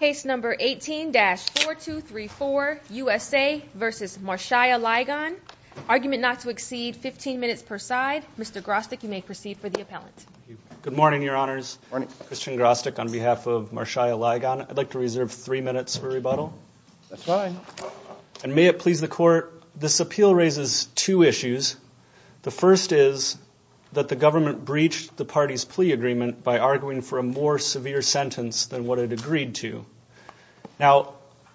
Case number 18-4234, USA v. Marshyia Ligon. Argument not to exceed 15 minutes per side. Mr. Grostek, you may proceed for the appellant. Good morning, Your Honors. Good morning. Christian Grostek on behalf of Marshyia Ligon. I'd like to reserve three minutes for rebuttal. That's fine. And may it please the Court, this appeal raises two issues. The first is that the government breached the party's plea agreement by arguing for a more severe sentence than what it agreed to. Now,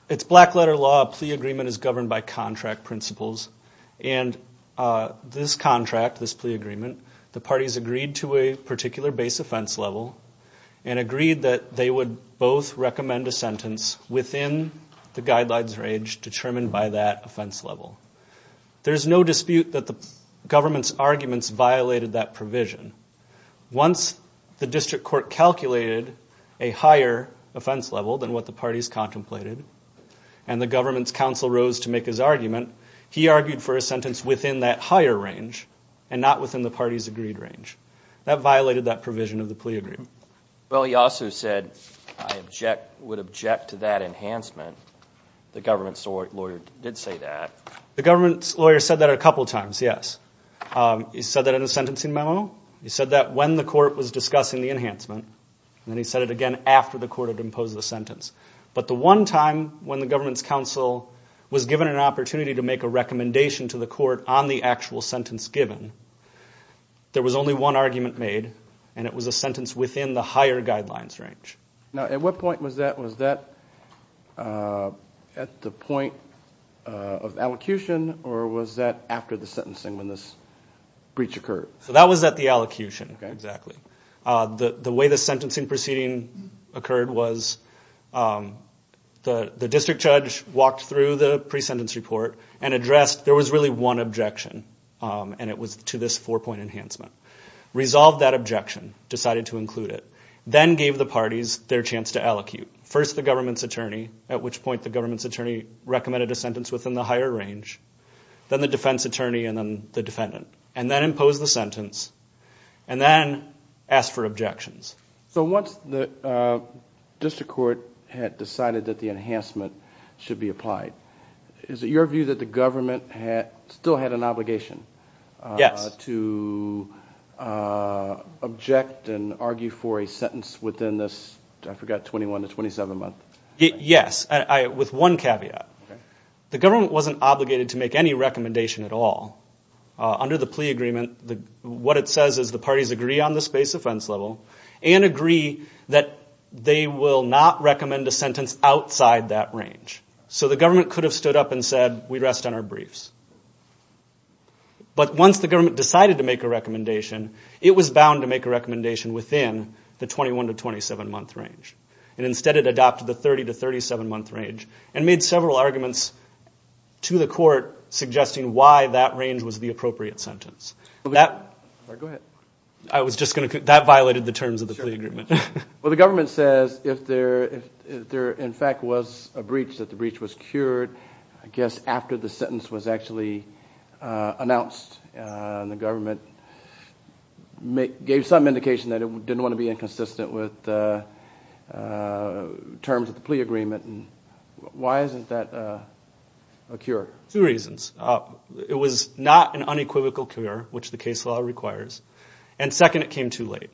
it's black-letter law. A plea agreement is governed by contract principles. And this contract, this plea agreement, the parties agreed to a particular base offense level and agreed that they would both recommend a sentence within the guidelines range determined by that offense level. There's no dispute that the government's arguments violated that provision. Once the district court calculated a higher offense level than what the parties contemplated and the government's counsel rose to make his argument, he argued for a sentence within that higher range and not within the parties' agreed range. That violated that provision of the plea agreement. Well, he also said, I would object to that enhancement. The government's lawyer did say that. The government's lawyer said that a couple times, yes. He said that in a sentencing memo. He said that when the court was discussing the enhancement. And then he said it again after the court had imposed the sentence. But the one time when the government's counsel was given an opportunity to make a recommendation to the court on the actual sentence given, there was only one argument made and it was a sentence within the higher guidelines range. Now, at what point was that? Was that at the point of allocution or was that after the sentencing when this breach occurred? So that was at the allocution, exactly. The way the sentencing proceeding occurred was the district judge walked through the pre-sentence report and addressed, there was really one objection and it was to this four-point enhancement. Resolved that objection, decided to include it, then gave the parties their chance to allocute. First the government's attorney, at which point the government's attorney recommended a sentence within the higher range. Then the defense attorney and then the defendant. And then imposed the sentence and then asked for objections. So once the district court had decided that the enhancement should be applied, is it your view that the government still had an obligation to object and argue for a sentence within this, I forgot, 21 to 27 month? Yes, with one caveat. The government wasn't obligated to make any recommendation at all. Under the plea agreement, what it says is the parties agree on the space offense level and agree that they will not recommend a sentence outside that range. So the government could have stood up and said, we rest on our briefs. But once the government decided to make a recommendation, it was bound to make a recommendation within the 21 to 27 month range. And instead it adopted the 30 to 37 month range and made several arguments to the court suggesting why that range was the appropriate sentence. That violated the terms of the plea agreement. Well, the government says if there in fact was a breach, that the breach was cured, I guess after the sentence was actually announced. The government gave some indication that it didn't want to be inconsistent with terms of the plea agreement. Why isn't that a cure? Two reasons. It was not an unequivocal cure, which the case law requires. And second, it came too late.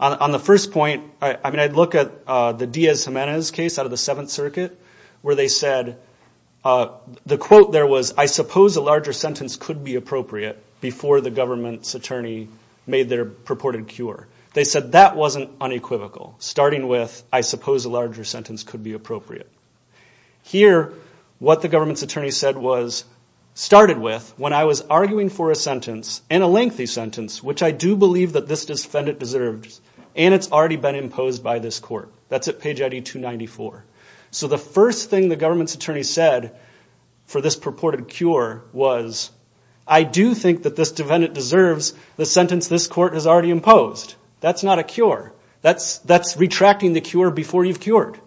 On the first point, I mean, I look at the Diaz-Gimenez case out of the Seventh Circuit where they said the quote there was, I suppose a larger sentence could be appropriate before the government's attorney made their purported cure. They said that wasn't unequivocal. Starting with, I suppose a larger sentence could be appropriate. Here, what the government's attorney said was, started with when I was arguing for a sentence and a lengthy sentence, which I do believe that this defendant deserves and it's already been imposed by this court. That's at page ID 294. So the first thing the government's attorney said for this purported cure was, I do think that this defendant deserves the sentence this court has already imposed. That's not a cure. That's retracting the cure before you've cured.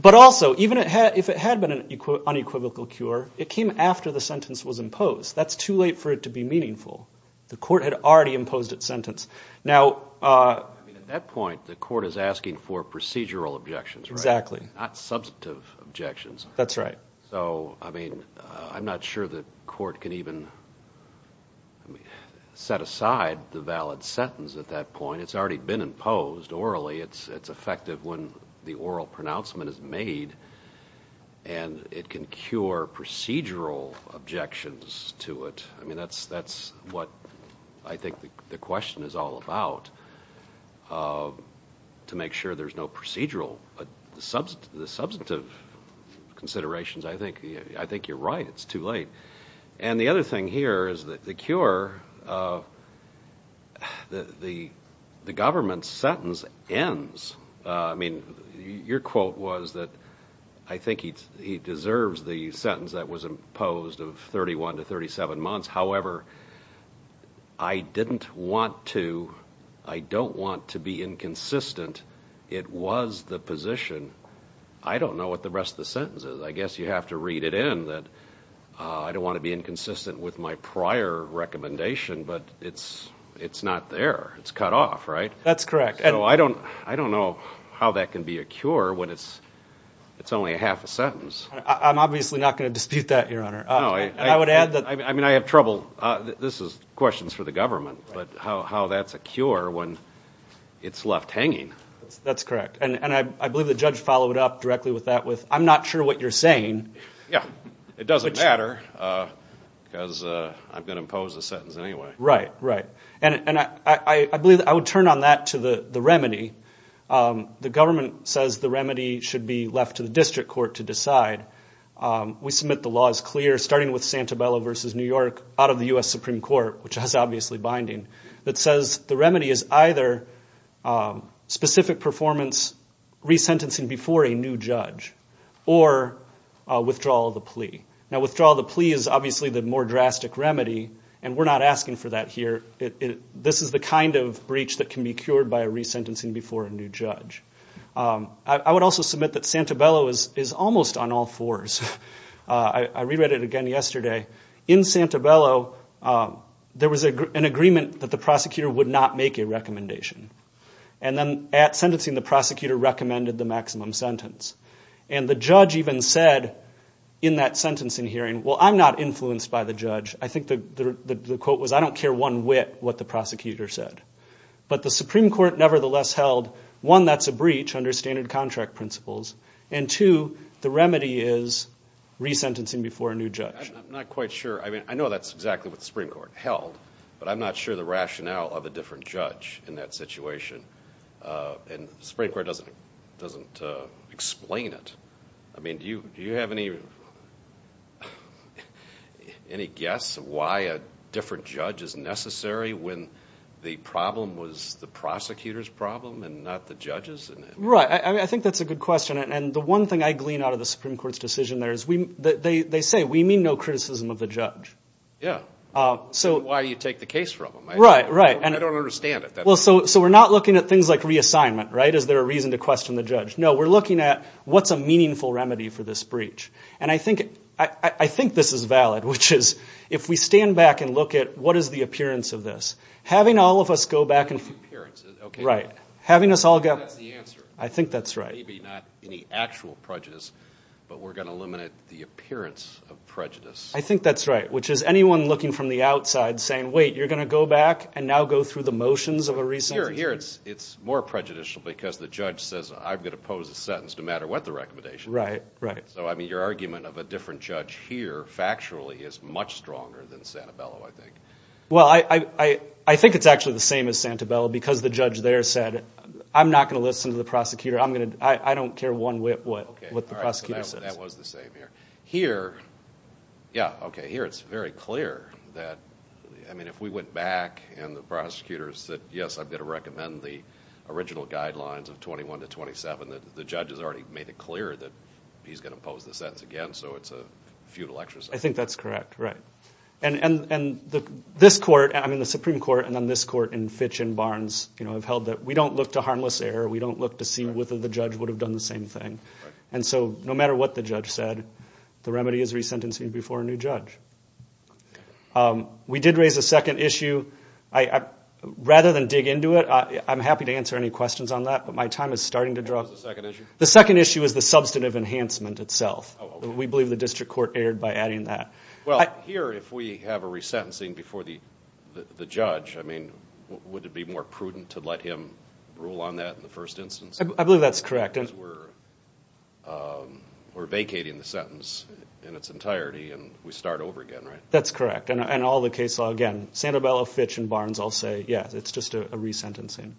But also, even if it had been an unequivocal cure, it came after the sentence was imposed. That's too late for it to be meaningful. The court had already imposed its sentence. Now— At that point, the court is asking for procedural objections, right? Exactly. Not substantive objections. That's right. So, I mean, I'm not sure the court can even set aside the valid sentence at that point. I mean, it's already been imposed orally. It's effective when the oral pronouncement is made and it can cure procedural objections to it. I mean, that's what I think the question is all about, to make sure there's no procedural—the substantive considerations. I think you're right. It's too late. And the other thing here is that the cure—the government's sentence ends. I mean, your quote was that I think he deserves the sentence that was imposed of 31 to 37 months. However, I didn't want to—I don't want to be inconsistent. It was the position. I don't know what the rest of the sentence is. I guess you have to read it in that I don't want to be inconsistent with my prior recommendation, but it's not there. It's cut off, right? That's correct. So I don't know how that can be a cure when it's only a half a sentence. I'm obviously not going to dispute that, Your Honor. No, I— And I would add that— I mean, I have trouble—this is questions for the government, but how that's a cure when it's left hanging. That's correct. And I believe the judge followed up directly with that with I'm not sure what you're saying. Yeah, it doesn't matter because I'm going to impose the sentence anyway. Right, right. And I believe—I would turn on that to the remedy. The government says the remedy should be left to the district court to decide. We submit the law as clear, starting with Santabella v. New York, out of the U.S. Supreme Court, which has obviously binding, that says the remedy is either specific performance resentencing before a new judge or withdrawal of the plea. Now, withdrawal of the plea is obviously the more drastic remedy, and we're not asking for that here. This is the kind of breach that can be cured by a resentencing before a new judge. I would also submit that Santabella is almost on all fours. I re-read it again yesterday. In Santabella, there was an agreement that the prosecutor would not make a recommendation. And then at sentencing, the prosecutor recommended the maximum sentence. And the judge even said in that sentencing hearing, well, I'm not influenced by the judge. I think the quote was, I don't care one whit what the prosecutor said. But the Supreme Court nevertheless held, one, that's a breach under standard contract principles, and two, the remedy is resentencing before a new judge. I'm not quite sure. I mean, I know that's exactly what the Supreme Court held, but I'm not sure the rationale of a different judge in that situation. And the Supreme Court doesn't explain it. I mean, do you have any guess why a different judge is necessary when the problem was the prosecutor's problem and not the judge's? Right. I think that's a good question. And the one thing I glean out of the Supreme Court's decision there is they say we mean no criticism of the judge. Yeah. So why do you take the case from them? Right, right. I don't understand it. Well, so we're not looking at things like reassignment, right? Is there a reason to question the judge? No, we're looking at what's a meaningful remedy for this breach. And I think this is valid, which is if we stand back and look at what is the appearance of this, having all of us go back and see. Appearance, okay. Right. Having us all go. That's the answer. I think that's right. Maybe not any actual prejudice, but we're going to eliminate the appearance of prejudice. I think that's right, which is anyone looking from the outside saying, wait, you're going to go back and now go through the motions of a reason? Here it's more prejudicial because the judge says I'm going to pose a sentence no matter what the recommendation is. Right, right. So, I mean, your argument of a different judge here factually is much stronger than Santabello, I think. Well, I think it's actually the same as Santabello because the judge there said, I'm not going to listen to the prosecutor. I don't care one whit what the prosecutor says. That was the same here. Here, yeah, okay, here it's very clear that, I mean, if we went back and the prosecutor said, yes, I'm going to recommend the original guidelines of 21 to 27, the judge has already made it clear that he's going to pose the sentence again, so it's a futile exercise. I think that's correct, right. And this court, I mean, the Supreme Court and then this court in Fitch and Barnes have held that we don't look to harmless error. We don't look to see whether the judge would have done the same thing. And so no matter what the judge said, the remedy is resentencing before a new judge. We did raise a second issue. Rather than dig into it, I'm happy to answer any questions on that, but my time is starting to draw. What was the second issue? The second issue is the substantive enhancement itself. We believe the district court erred by adding that. Well, here, if we have a resentencing before the judge, I mean, would it be more prudent to let him rule on that in the first instance? I believe that's correct. Because we're vacating the sentence in its entirety and we start over again, right? That's correct. And all the case law, again, Sandobello, Fitch, and Barnes all say, yes, it's just a resentencing.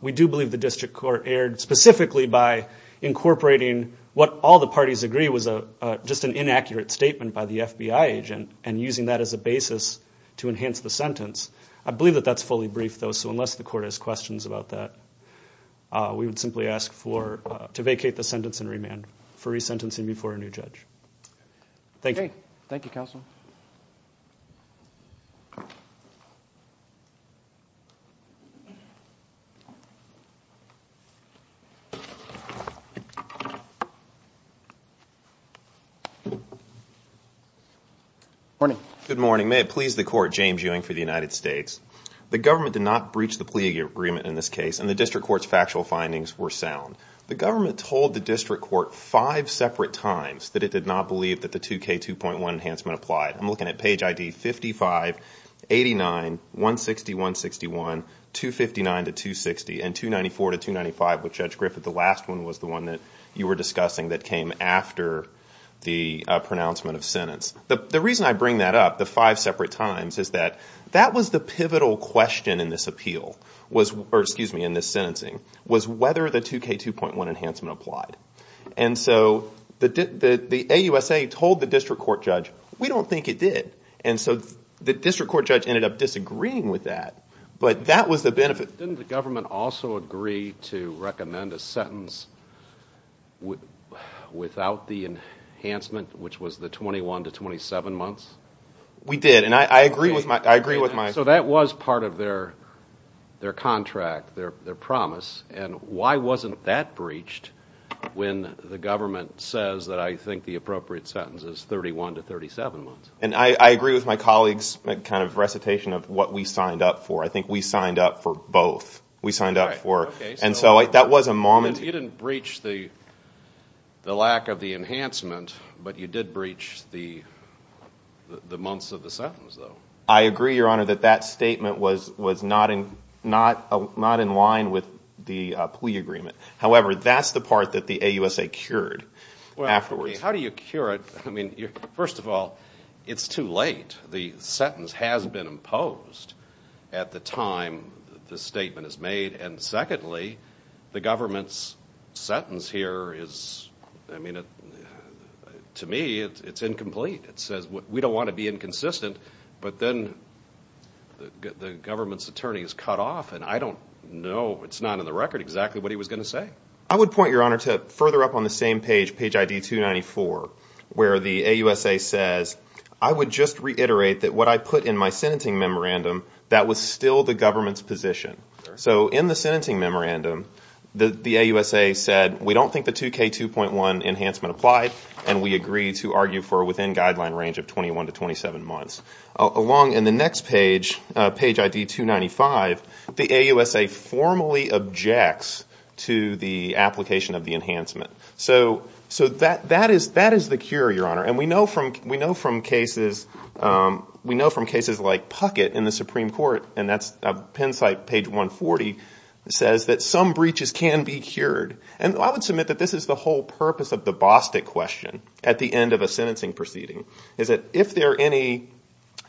We do believe the district court erred specifically by incorporating what all the parties agree was just an inaccurate statement by the FBI agent and using that as a basis to enhance the sentence. I believe that that's fully brief, though, so unless the court has questions about that, we would simply ask to vacate the sentence and remand for resentencing before a new judge. Thank you. Okay. Thank you, Counsel. Good morning. Good morning. May it please the Court, James Ewing for the United States. The government did not breach the plea agreement in this case, and the district court's factual findings were sound. The government told the district court five separate times that it did not believe that the 2K2.1 enhancement applied. I'm looking at page ID 55, 89, 160, 161, 259 to 260, and 294 to 295 with Judge Griffith. The last one was the one that you were discussing that came after the pronouncement of sentence. The reason I bring that up, the five separate times, is that that was the pivotal question in this appeal, or excuse me, in this sentencing, was whether the 2K2.1 enhancement applied. And so the AUSA told the district court judge, we don't think it did. And so the district court judge ended up disagreeing with that, but that was the benefit. Didn't the government also agree to recommend a sentence without the enhancement, which was the 21 to 27 months? We did, and I agree with my. So that was part of their contract, their promise. And why wasn't that breached when the government says that I think the appropriate sentence is 31 to 37 months? And I agree with my colleague's kind of recitation of what we signed up for. I think we signed up for both. We signed up for. And so that was a moment. You didn't breach the lack of the enhancement, but you did breach the months of the sentence, though. I agree, Your Honor, that that statement was not in line with the plea agreement. However, that's the part that the AUSA cured afterwards. How do you cure it? I mean, first of all, it's too late. The sentence has been imposed at the time the statement is made. And secondly, the government's sentence here is, I mean, to me it's incomplete. It says we don't want to be inconsistent, but then the government's attorney is cut off, and I don't know, it's not in the record exactly what he was going to say. I would point, Your Honor, to further up on the same page, page ID 294, where the AUSA says I would just reiterate that what I put in my sentencing memorandum, that was still the government's position. So in the sentencing memorandum, the AUSA said we don't think the 2K2.1 enhancement applied, and we agree to argue for within guideline range of 21 to 27 months. Along in the next page, page ID 295, the AUSA formally objects to the application of the enhancement. So that is the cure, Your Honor. And we know from cases like Puckett in the Supreme Court, and that's a Penn site page 140, says that some breaches can be cured. And I would submit that this is the whole purpose of the Bostick question, at the end of a sentencing proceeding, is that if there are any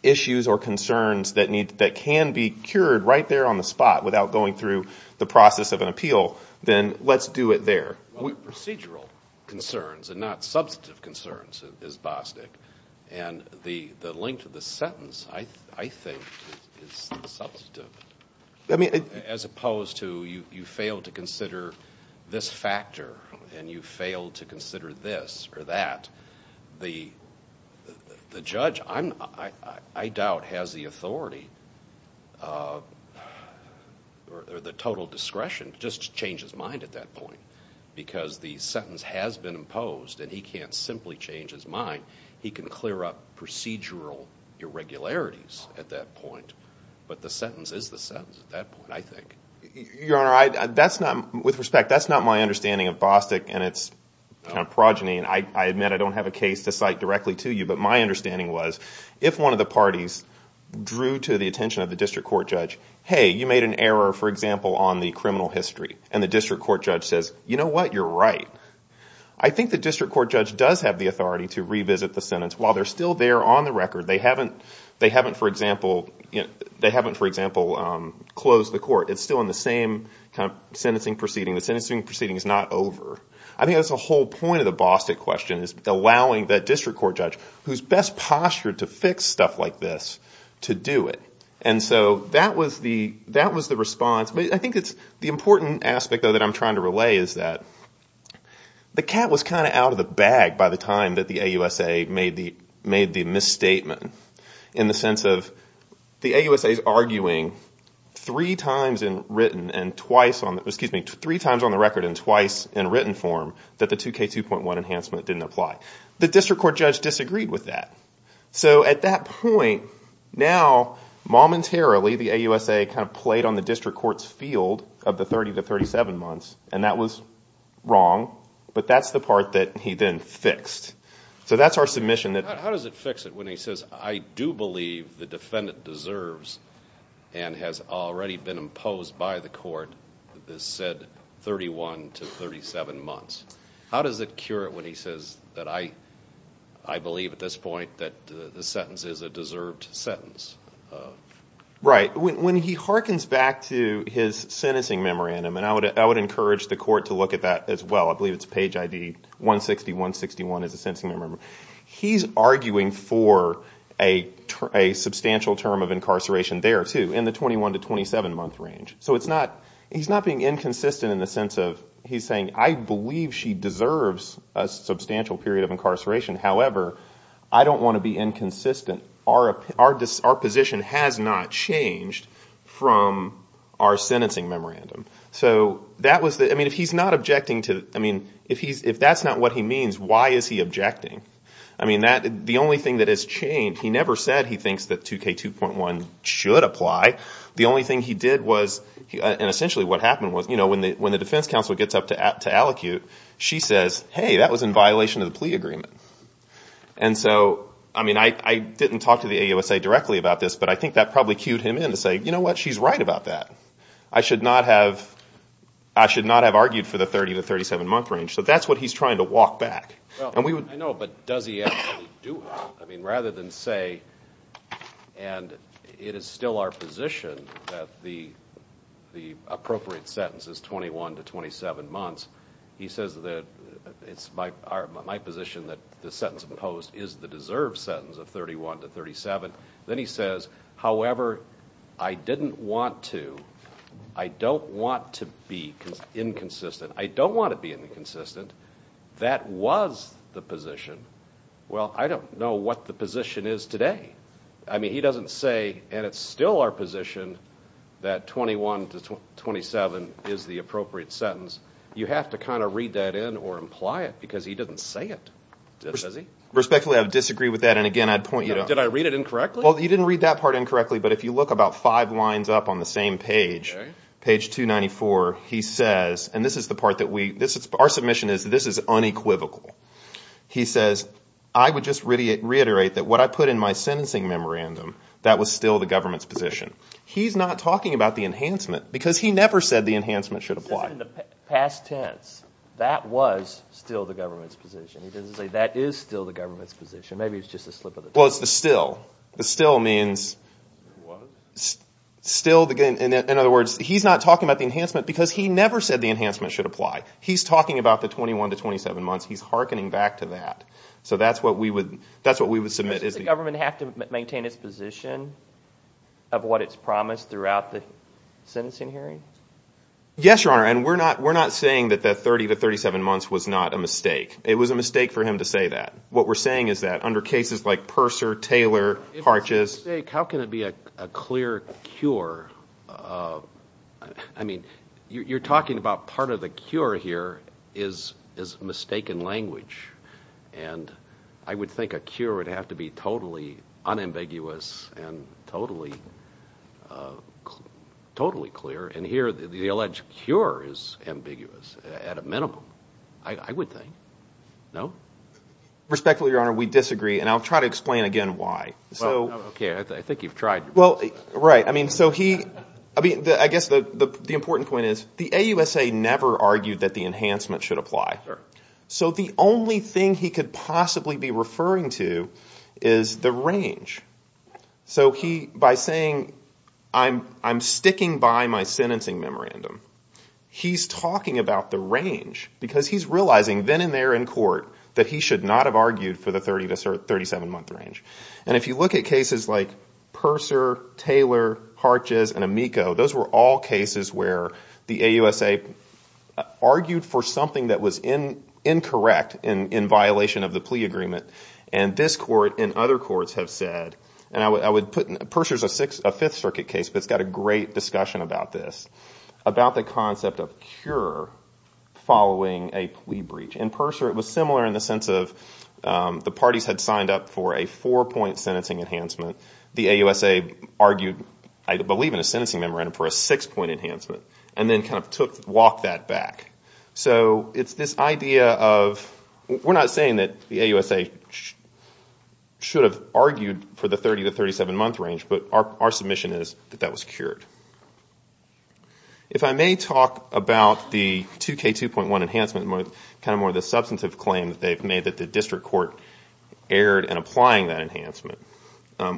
issues or concerns that can be cured right there on the spot without going through the process of an appeal, then let's do it there. Well, procedural concerns and not substantive concerns is Bostick. And the length of the sentence, I think, is substantive. As opposed to you fail to consider this factor and you fail to consider this or that, the judge, I doubt, has the authority or the total discretion just to change his mind at that point because the sentence has been imposed and he can't simply change his mind. He can clear up procedural irregularities at that point, but the sentence is the sentence at that point, I think. Your Honor, with respect, that's not my understanding of Bostick and its progeny, and I admit I don't have a case to cite directly to you, but my understanding was if one of the parties drew to the attention of the district court judge, hey, you made an error, for example, on the criminal history, and the district court judge says, you know what, you're right. I think the district court judge does have the authority to revisit the sentence. While they're still there on the record, they haven't, for example, closed the court. It's still in the same kind of sentencing proceeding. The sentencing proceeding is not over. I think that's the whole point of the Bostick question is allowing that district court judge, who's best postured to fix stuff like this, to do it. And so that was the response. I think the important aspect, though, that I'm trying to relay is that the cat was kind of out of the bag by the time that the AUSA made the misstatement, in the sense of the AUSA is arguing three times on the record and twice in written form that the 2K2.1 enhancement didn't apply. The district court judge disagreed with that. So at that point, now momentarily the AUSA kind of played on the district court's field of the 30 to 37 months, and that was wrong, but that's the part that he then fixed. So that's our submission. How does it fix it when he says, I do believe the defendant deserves and has already been imposed by the court the said 31 to 37 months? How does it cure it when he says that I believe at this point that the sentence is a deserved sentence? Right. When he harkens back to his sentencing memorandum, and I would encourage the court to look at that as well. I believe it's page ID 160-161 as a sentencing memorandum. He's arguing for a substantial term of incarceration there, too, in the 21 to 27-month range. So he's not being inconsistent in the sense of he's saying I believe she deserves a substantial period of incarceration. However, I don't want to be inconsistent. Our position has not changed from our sentencing memorandum. So that was the – I mean, if he's not objecting to – I mean, if that's not what he means, why is he objecting? I mean, the only thing that has changed – he never said he thinks that 2K2.1 should apply. The only thing he did was – and essentially what happened was when the defense counsel gets up to allocute, she says, hey, that was in violation of the plea agreement. And so, I mean, I didn't talk to the AUSA directly about this, but I think that probably cued him in to say, you know what, she's right about that. I should not have argued for the 30 to 37-month range. So that's what he's trying to walk back. I know, but does he actually do it? I mean, rather than say, and it is still our position that the appropriate sentence is 21 to 27 months, he says that it's my position that the sentence imposed is the deserved sentence of 31 to 37. Then he says, however, I didn't want to – I don't want to be inconsistent. I don't want to be inconsistent. That was the position. Well, I don't know what the position is today. I mean, he doesn't say, and it's still our position that 21 to 27 is the appropriate sentence. You have to kind of read that in or imply it because he doesn't say it, does he? Respectfully, I would disagree with that, and again, I'd point you to – Did I read it incorrectly? Well, you didn't read that part incorrectly, but if you look about five lines up on the same page, page 294, he says, and this is the part that we – our submission is this is unequivocal. He says, I would just reiterate that what I put in my sentencing memorandum, that was still the government's position. He's not talking about the enhancement because he never said the enhancement should apply. He said in the past tense, that was still the government's position. He doesn't say that is still the government's position. Maybe it's just a slip of the tongue. Well, it's the still. The still means still – in other words, he's not talking about the enhancement because he never said the enhancement should apply. He's talking about the 21 to 27 months. He's hearkening back to that. So that's what we would – that's what we would submit. Does the government have to maintain its position of what it's promised throughout the sentencing hearing? Yes, Your Honor, and we're not saying that that 30 to 37 months was not a mistake. It was a mistake for him to say that. What we're saying is that under cases like Purser, Taylor, Harches – If it's a mistake, how can it be a clear cure? I mean, you're talking about part of the cure here is mistaken language, and I would think a cure would have to be totally unambiguous and totally clear. And here the alleged cure is ambiguous at a minimum, I would think. No? Respectfully, Your Honor, we disagree, and I'll try to explain again why. Okay, I think you've tried. Well, right. I mean, so he – I guess the important point is the AUSA never argued that the enhancement should apply. So the only thing he could possibly be referring to is the range. So by saying, I'm sticking by my sentencing memorandum, he's talking about the range because he's realizing then and there in court that he should not have argued for the 30 to 37-month range. And if you look at cases like Purser, Taylor, Harches, and Amico, those were all cases where the AUSA argued for something that was incorrect in violation of the plea agreement, and this court and other courts have said, and I would put – Purser's a Fifth Circuit case, but it's got a great discussion about this, about the concept of cure following a plea breach. In Purser it was similar in the sense of the parties had signed up for a four-point sentencing enhancement. The AUSA argued, I believe, in a sentencing memorandum for a six-point enhancement and then kind of walked that back. So it's this idea of – we're not saying that the AUSA should have argued for the 30 to 37-month range, but our submission is that that was cured. If I may talk about the 2K2.1 enhancement, kind of more the substantive claim that they've made that the district court erred in applying that enhancement,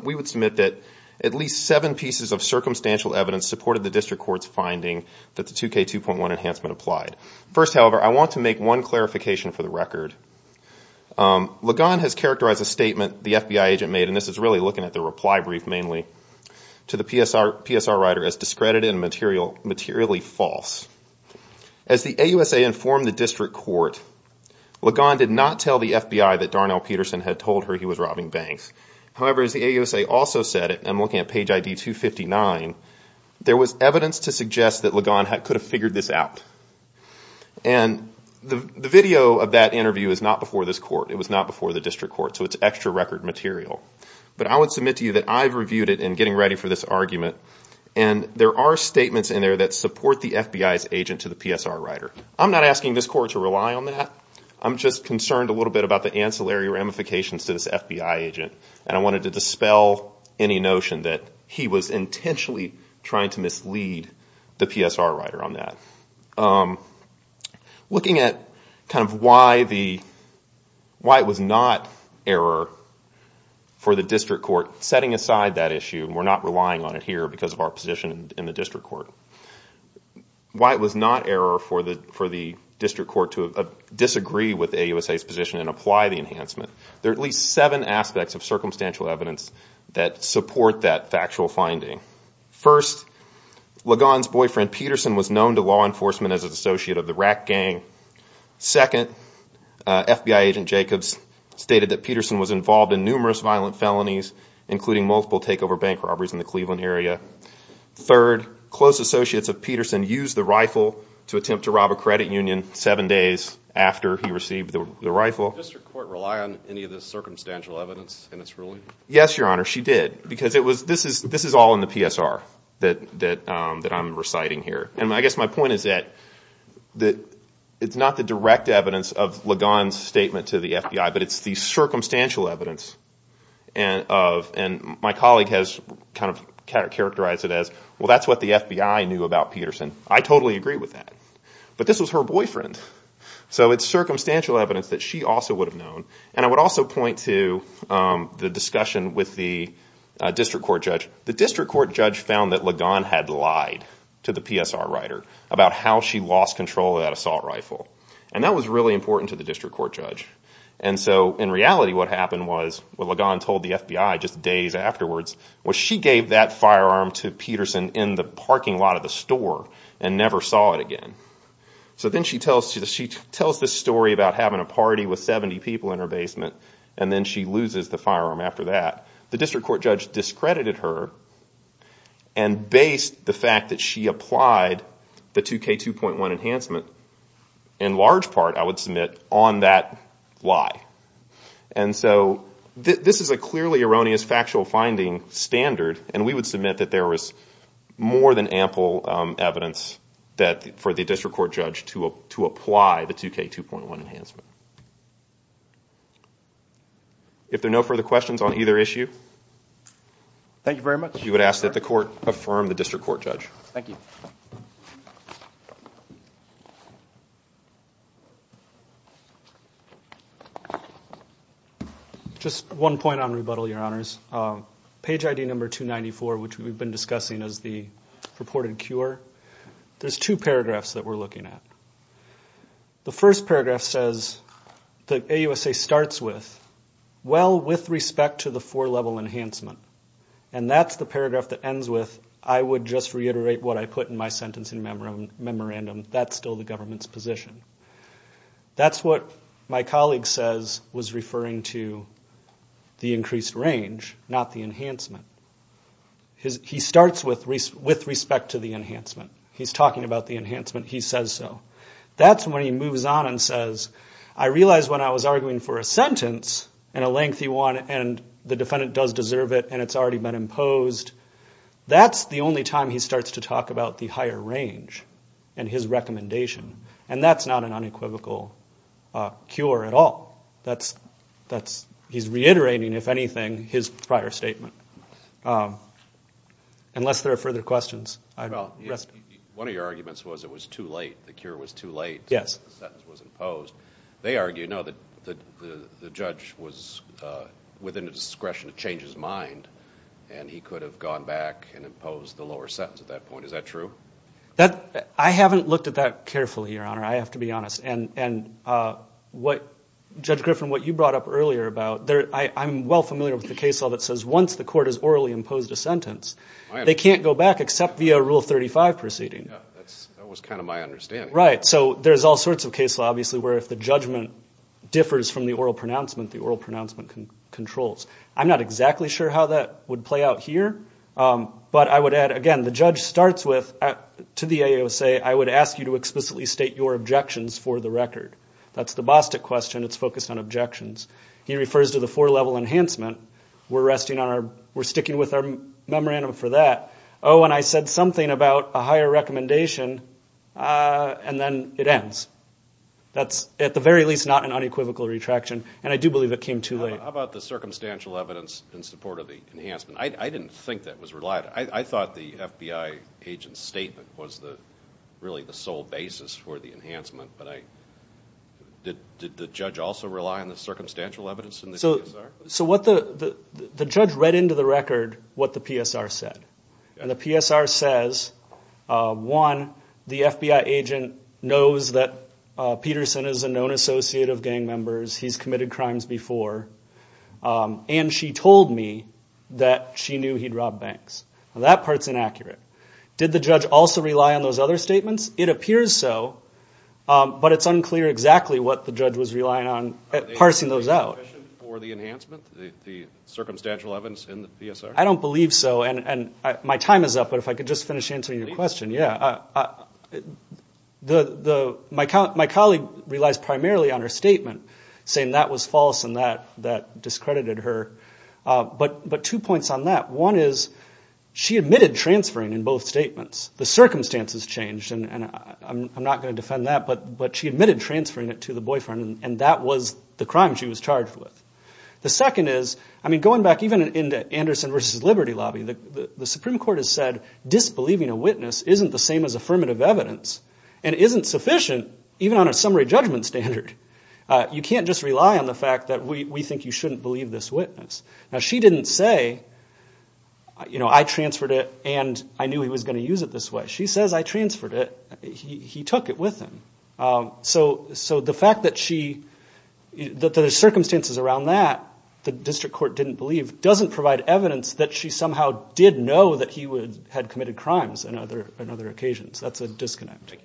we would submit that at least seven pieces of circumstantial evidence supported the district court's finding that the 2K2.1 enhancement applied. First, however, I want to make one clarification for the record. Ligon has characterized a statement the FBI agent made, and this is really looking at the reply brief mainly, to the PSR writer as discredited and materially false. As the AUSA informed the district court, Ligon did not tell the FBI that Darnell Peterson had told her he was robbing banks. However, as the AUSA also said, and I'm looking at page ID 259, there was evidence to suggest that Ligon could have figured this out. And the video of that interview is not before this court. It was not before the district court, so it's extra record material. But I would submit to you that I've reviewed it in getting ready for this argument, and there are statements in there that support the FBI's agent to the PSR writer. I'm not asking this court to rely on that. I'm just concerned a little bit about the ancillary ramifications to this FBI agent, and I wanted to dispel any notion that he was intentionally trying to mislead the PSR writer on that. Looking at why it was not error for the district court setting aside that issue, and we're not relying on it here because of our position in the district court, why it was not error for the district court to disagree with the AUSA's position and apply the enhancement. There are at least seven aspects of circumstantial evidence that support that factual finding. First, Ligon's boyfriend, Peterson, was known to law enforcement as an associate of the Rack Gang. Second, FBI agent Jacobs stated that Peterson was involved in numerous violent felonies, including multiple takeover bank robberies in the Cleveland area. Third, close associates of Peterson used the rifle to attempt to rob a credit union seven days after he received the rifle. Did the district court rely on any of this circumstantial evidence in its ruling? Yes, Your Honor, she did because this is all in the PSR that I'm reciting here. I guess my point is that it's not the direct evidence of Ligon's statement to the FBI, but it's the circumstantial evidence, and my colleague has kind of characterized it as, well, that's what the FBI knew about Peterson. I totally agree with that, but this was her boyfriend. So it's circumstantial evidence that she also would have known, and I would also point to the discussion with the district court judge. The district court judge found that Ligon had lied to the PSR writer about how she lost control of that assault rifle, and that was really important to the district court judge. And so in reality what happened was what Ligon told the FBI just days afterwards was she gave that firearm to Peterson in the parking lot of the store and never saw it again. So then she tells this story about having a party with 70 people in her basement, and then she loses the firearm after that. The district court judge discredited her and based the fact that she applied the 2K2.1 enhancement, in large part, I would submit, on that lie. And so this is a clearly erroneous factual finding standard, and we would submit that there was more than ample evidence for the district court judge to apply the 2K2.1 enhancement. If there are no further questions on either issue, you would ask that the court affirm the district court judge. Thank you. Just one point on rebuttal, Your Honors. Page ID number 294, which we've been discussing as the reported cure, there's two paragraphs that we're looking at. The first paragraph says that AUSA starts with, well, with respect to the four-level enhancement. And that's the paragraph that ends with, I would just reiterate what I put in my sentencing memorandum. That's still the government's position. That's what my colleague says was referring to the increased range, not the enhancement. He starts with respect to the enhancement. He's talking about the enhancement. He says so. That's when he moves on and says, I realize when I was arguing for a sentence, and a lengthy one, and the defendant does deserve it and it's already been imposed, that's the only time he starts to talk about the higher range and his recommendation. And that's not an unequivocal cure at all. He's reiterating, if anything, his prior statement. Unless there are further questions. One of your arguments was it was too late, the cure was too late, the sentence was imposed. They argue, no, the judge was within the discretion to change his mind, and he could have gone back and imposed the lower sentence at that point. Is that true? I haven't looked at that carefully, Your Honor. I have to be honest. Judge Griffin, what you brought up earlier about, I'm well familiar with the case law that says once the court has orally imposed a sentence, they can't go back except via Rule 35 proceeding. That was kind of my understanding. Right. So there's all sorts of case law, obviously, where if the judgment differs from the oral pronouncement, the oral pronouncement controls. I'm not exactly sure how that would play out here, but I would add, again, the judge starts with, to the AOA, I would ask you to explicitly state your objections for the record. That's the Bostick question. It's focused on objections. He refers to the four-level enhancement. We're sticking with our memorandum for that. Oh, and I said something about a higher recommendation, and then it ends. That's, at the very least, not an unequivocal retraction, and I do believe it came too late. How about the circumstantial evidence in support of the enhancement? I didn't think that was relied on. I thought the FBI agent's statement was really the sole basis for the enhancement, but did the judge also rely on the circumstantial evidence in the PSR? So the judge read into the record what the PSR said, and the PSR says, one, the FBI agent knows that Peterson is a known associate of gang members, he's committed crimes before, and she told me that she knew he'd robbed banks. Now, that part's inaccurate. Did the judge also rely on those other statements? It appears so, but it's unclear exactly what the judge was relying on parsing those out. Are they sufficient for the enhancement, the circumstantial evidence in the PSR? I don't believe so, and my time is up, but if I could just finish answering your question. Please. My colleague relies primarily on her statement, saying that was false and that discredited her, but two points on that. One is she admitted transferring in both statements. The circumstances changed, and I'm not going to defend that, but she admitted transferring it to the boyfriend, and that was the crime she was charged with. The second is, I mean, going back even into Anderson v. Liberty Lobby, the Supreme Court has said disbelieving a witness isn't the same as affirmative evidence and isn't sufficient even on a summary judgment standard. You can't just rely on the fact that we think you shouldn't believe this witness. Now, she didn't say, you know, I transferred it and I knew he was going to use it this way. She says I transferred it. He took it with him. So the fact that there's circumstances around that the district court didn't believe doesn't provide evidence that she somehow did know that he had committed crimes on other occasions. That's a disconnect.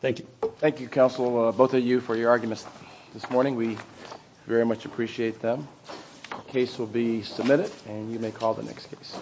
Thank you. Thank you, counsel, both of you, for your arguments this morning. We very much appreciate them. The case will be submitted, and you may call the next case.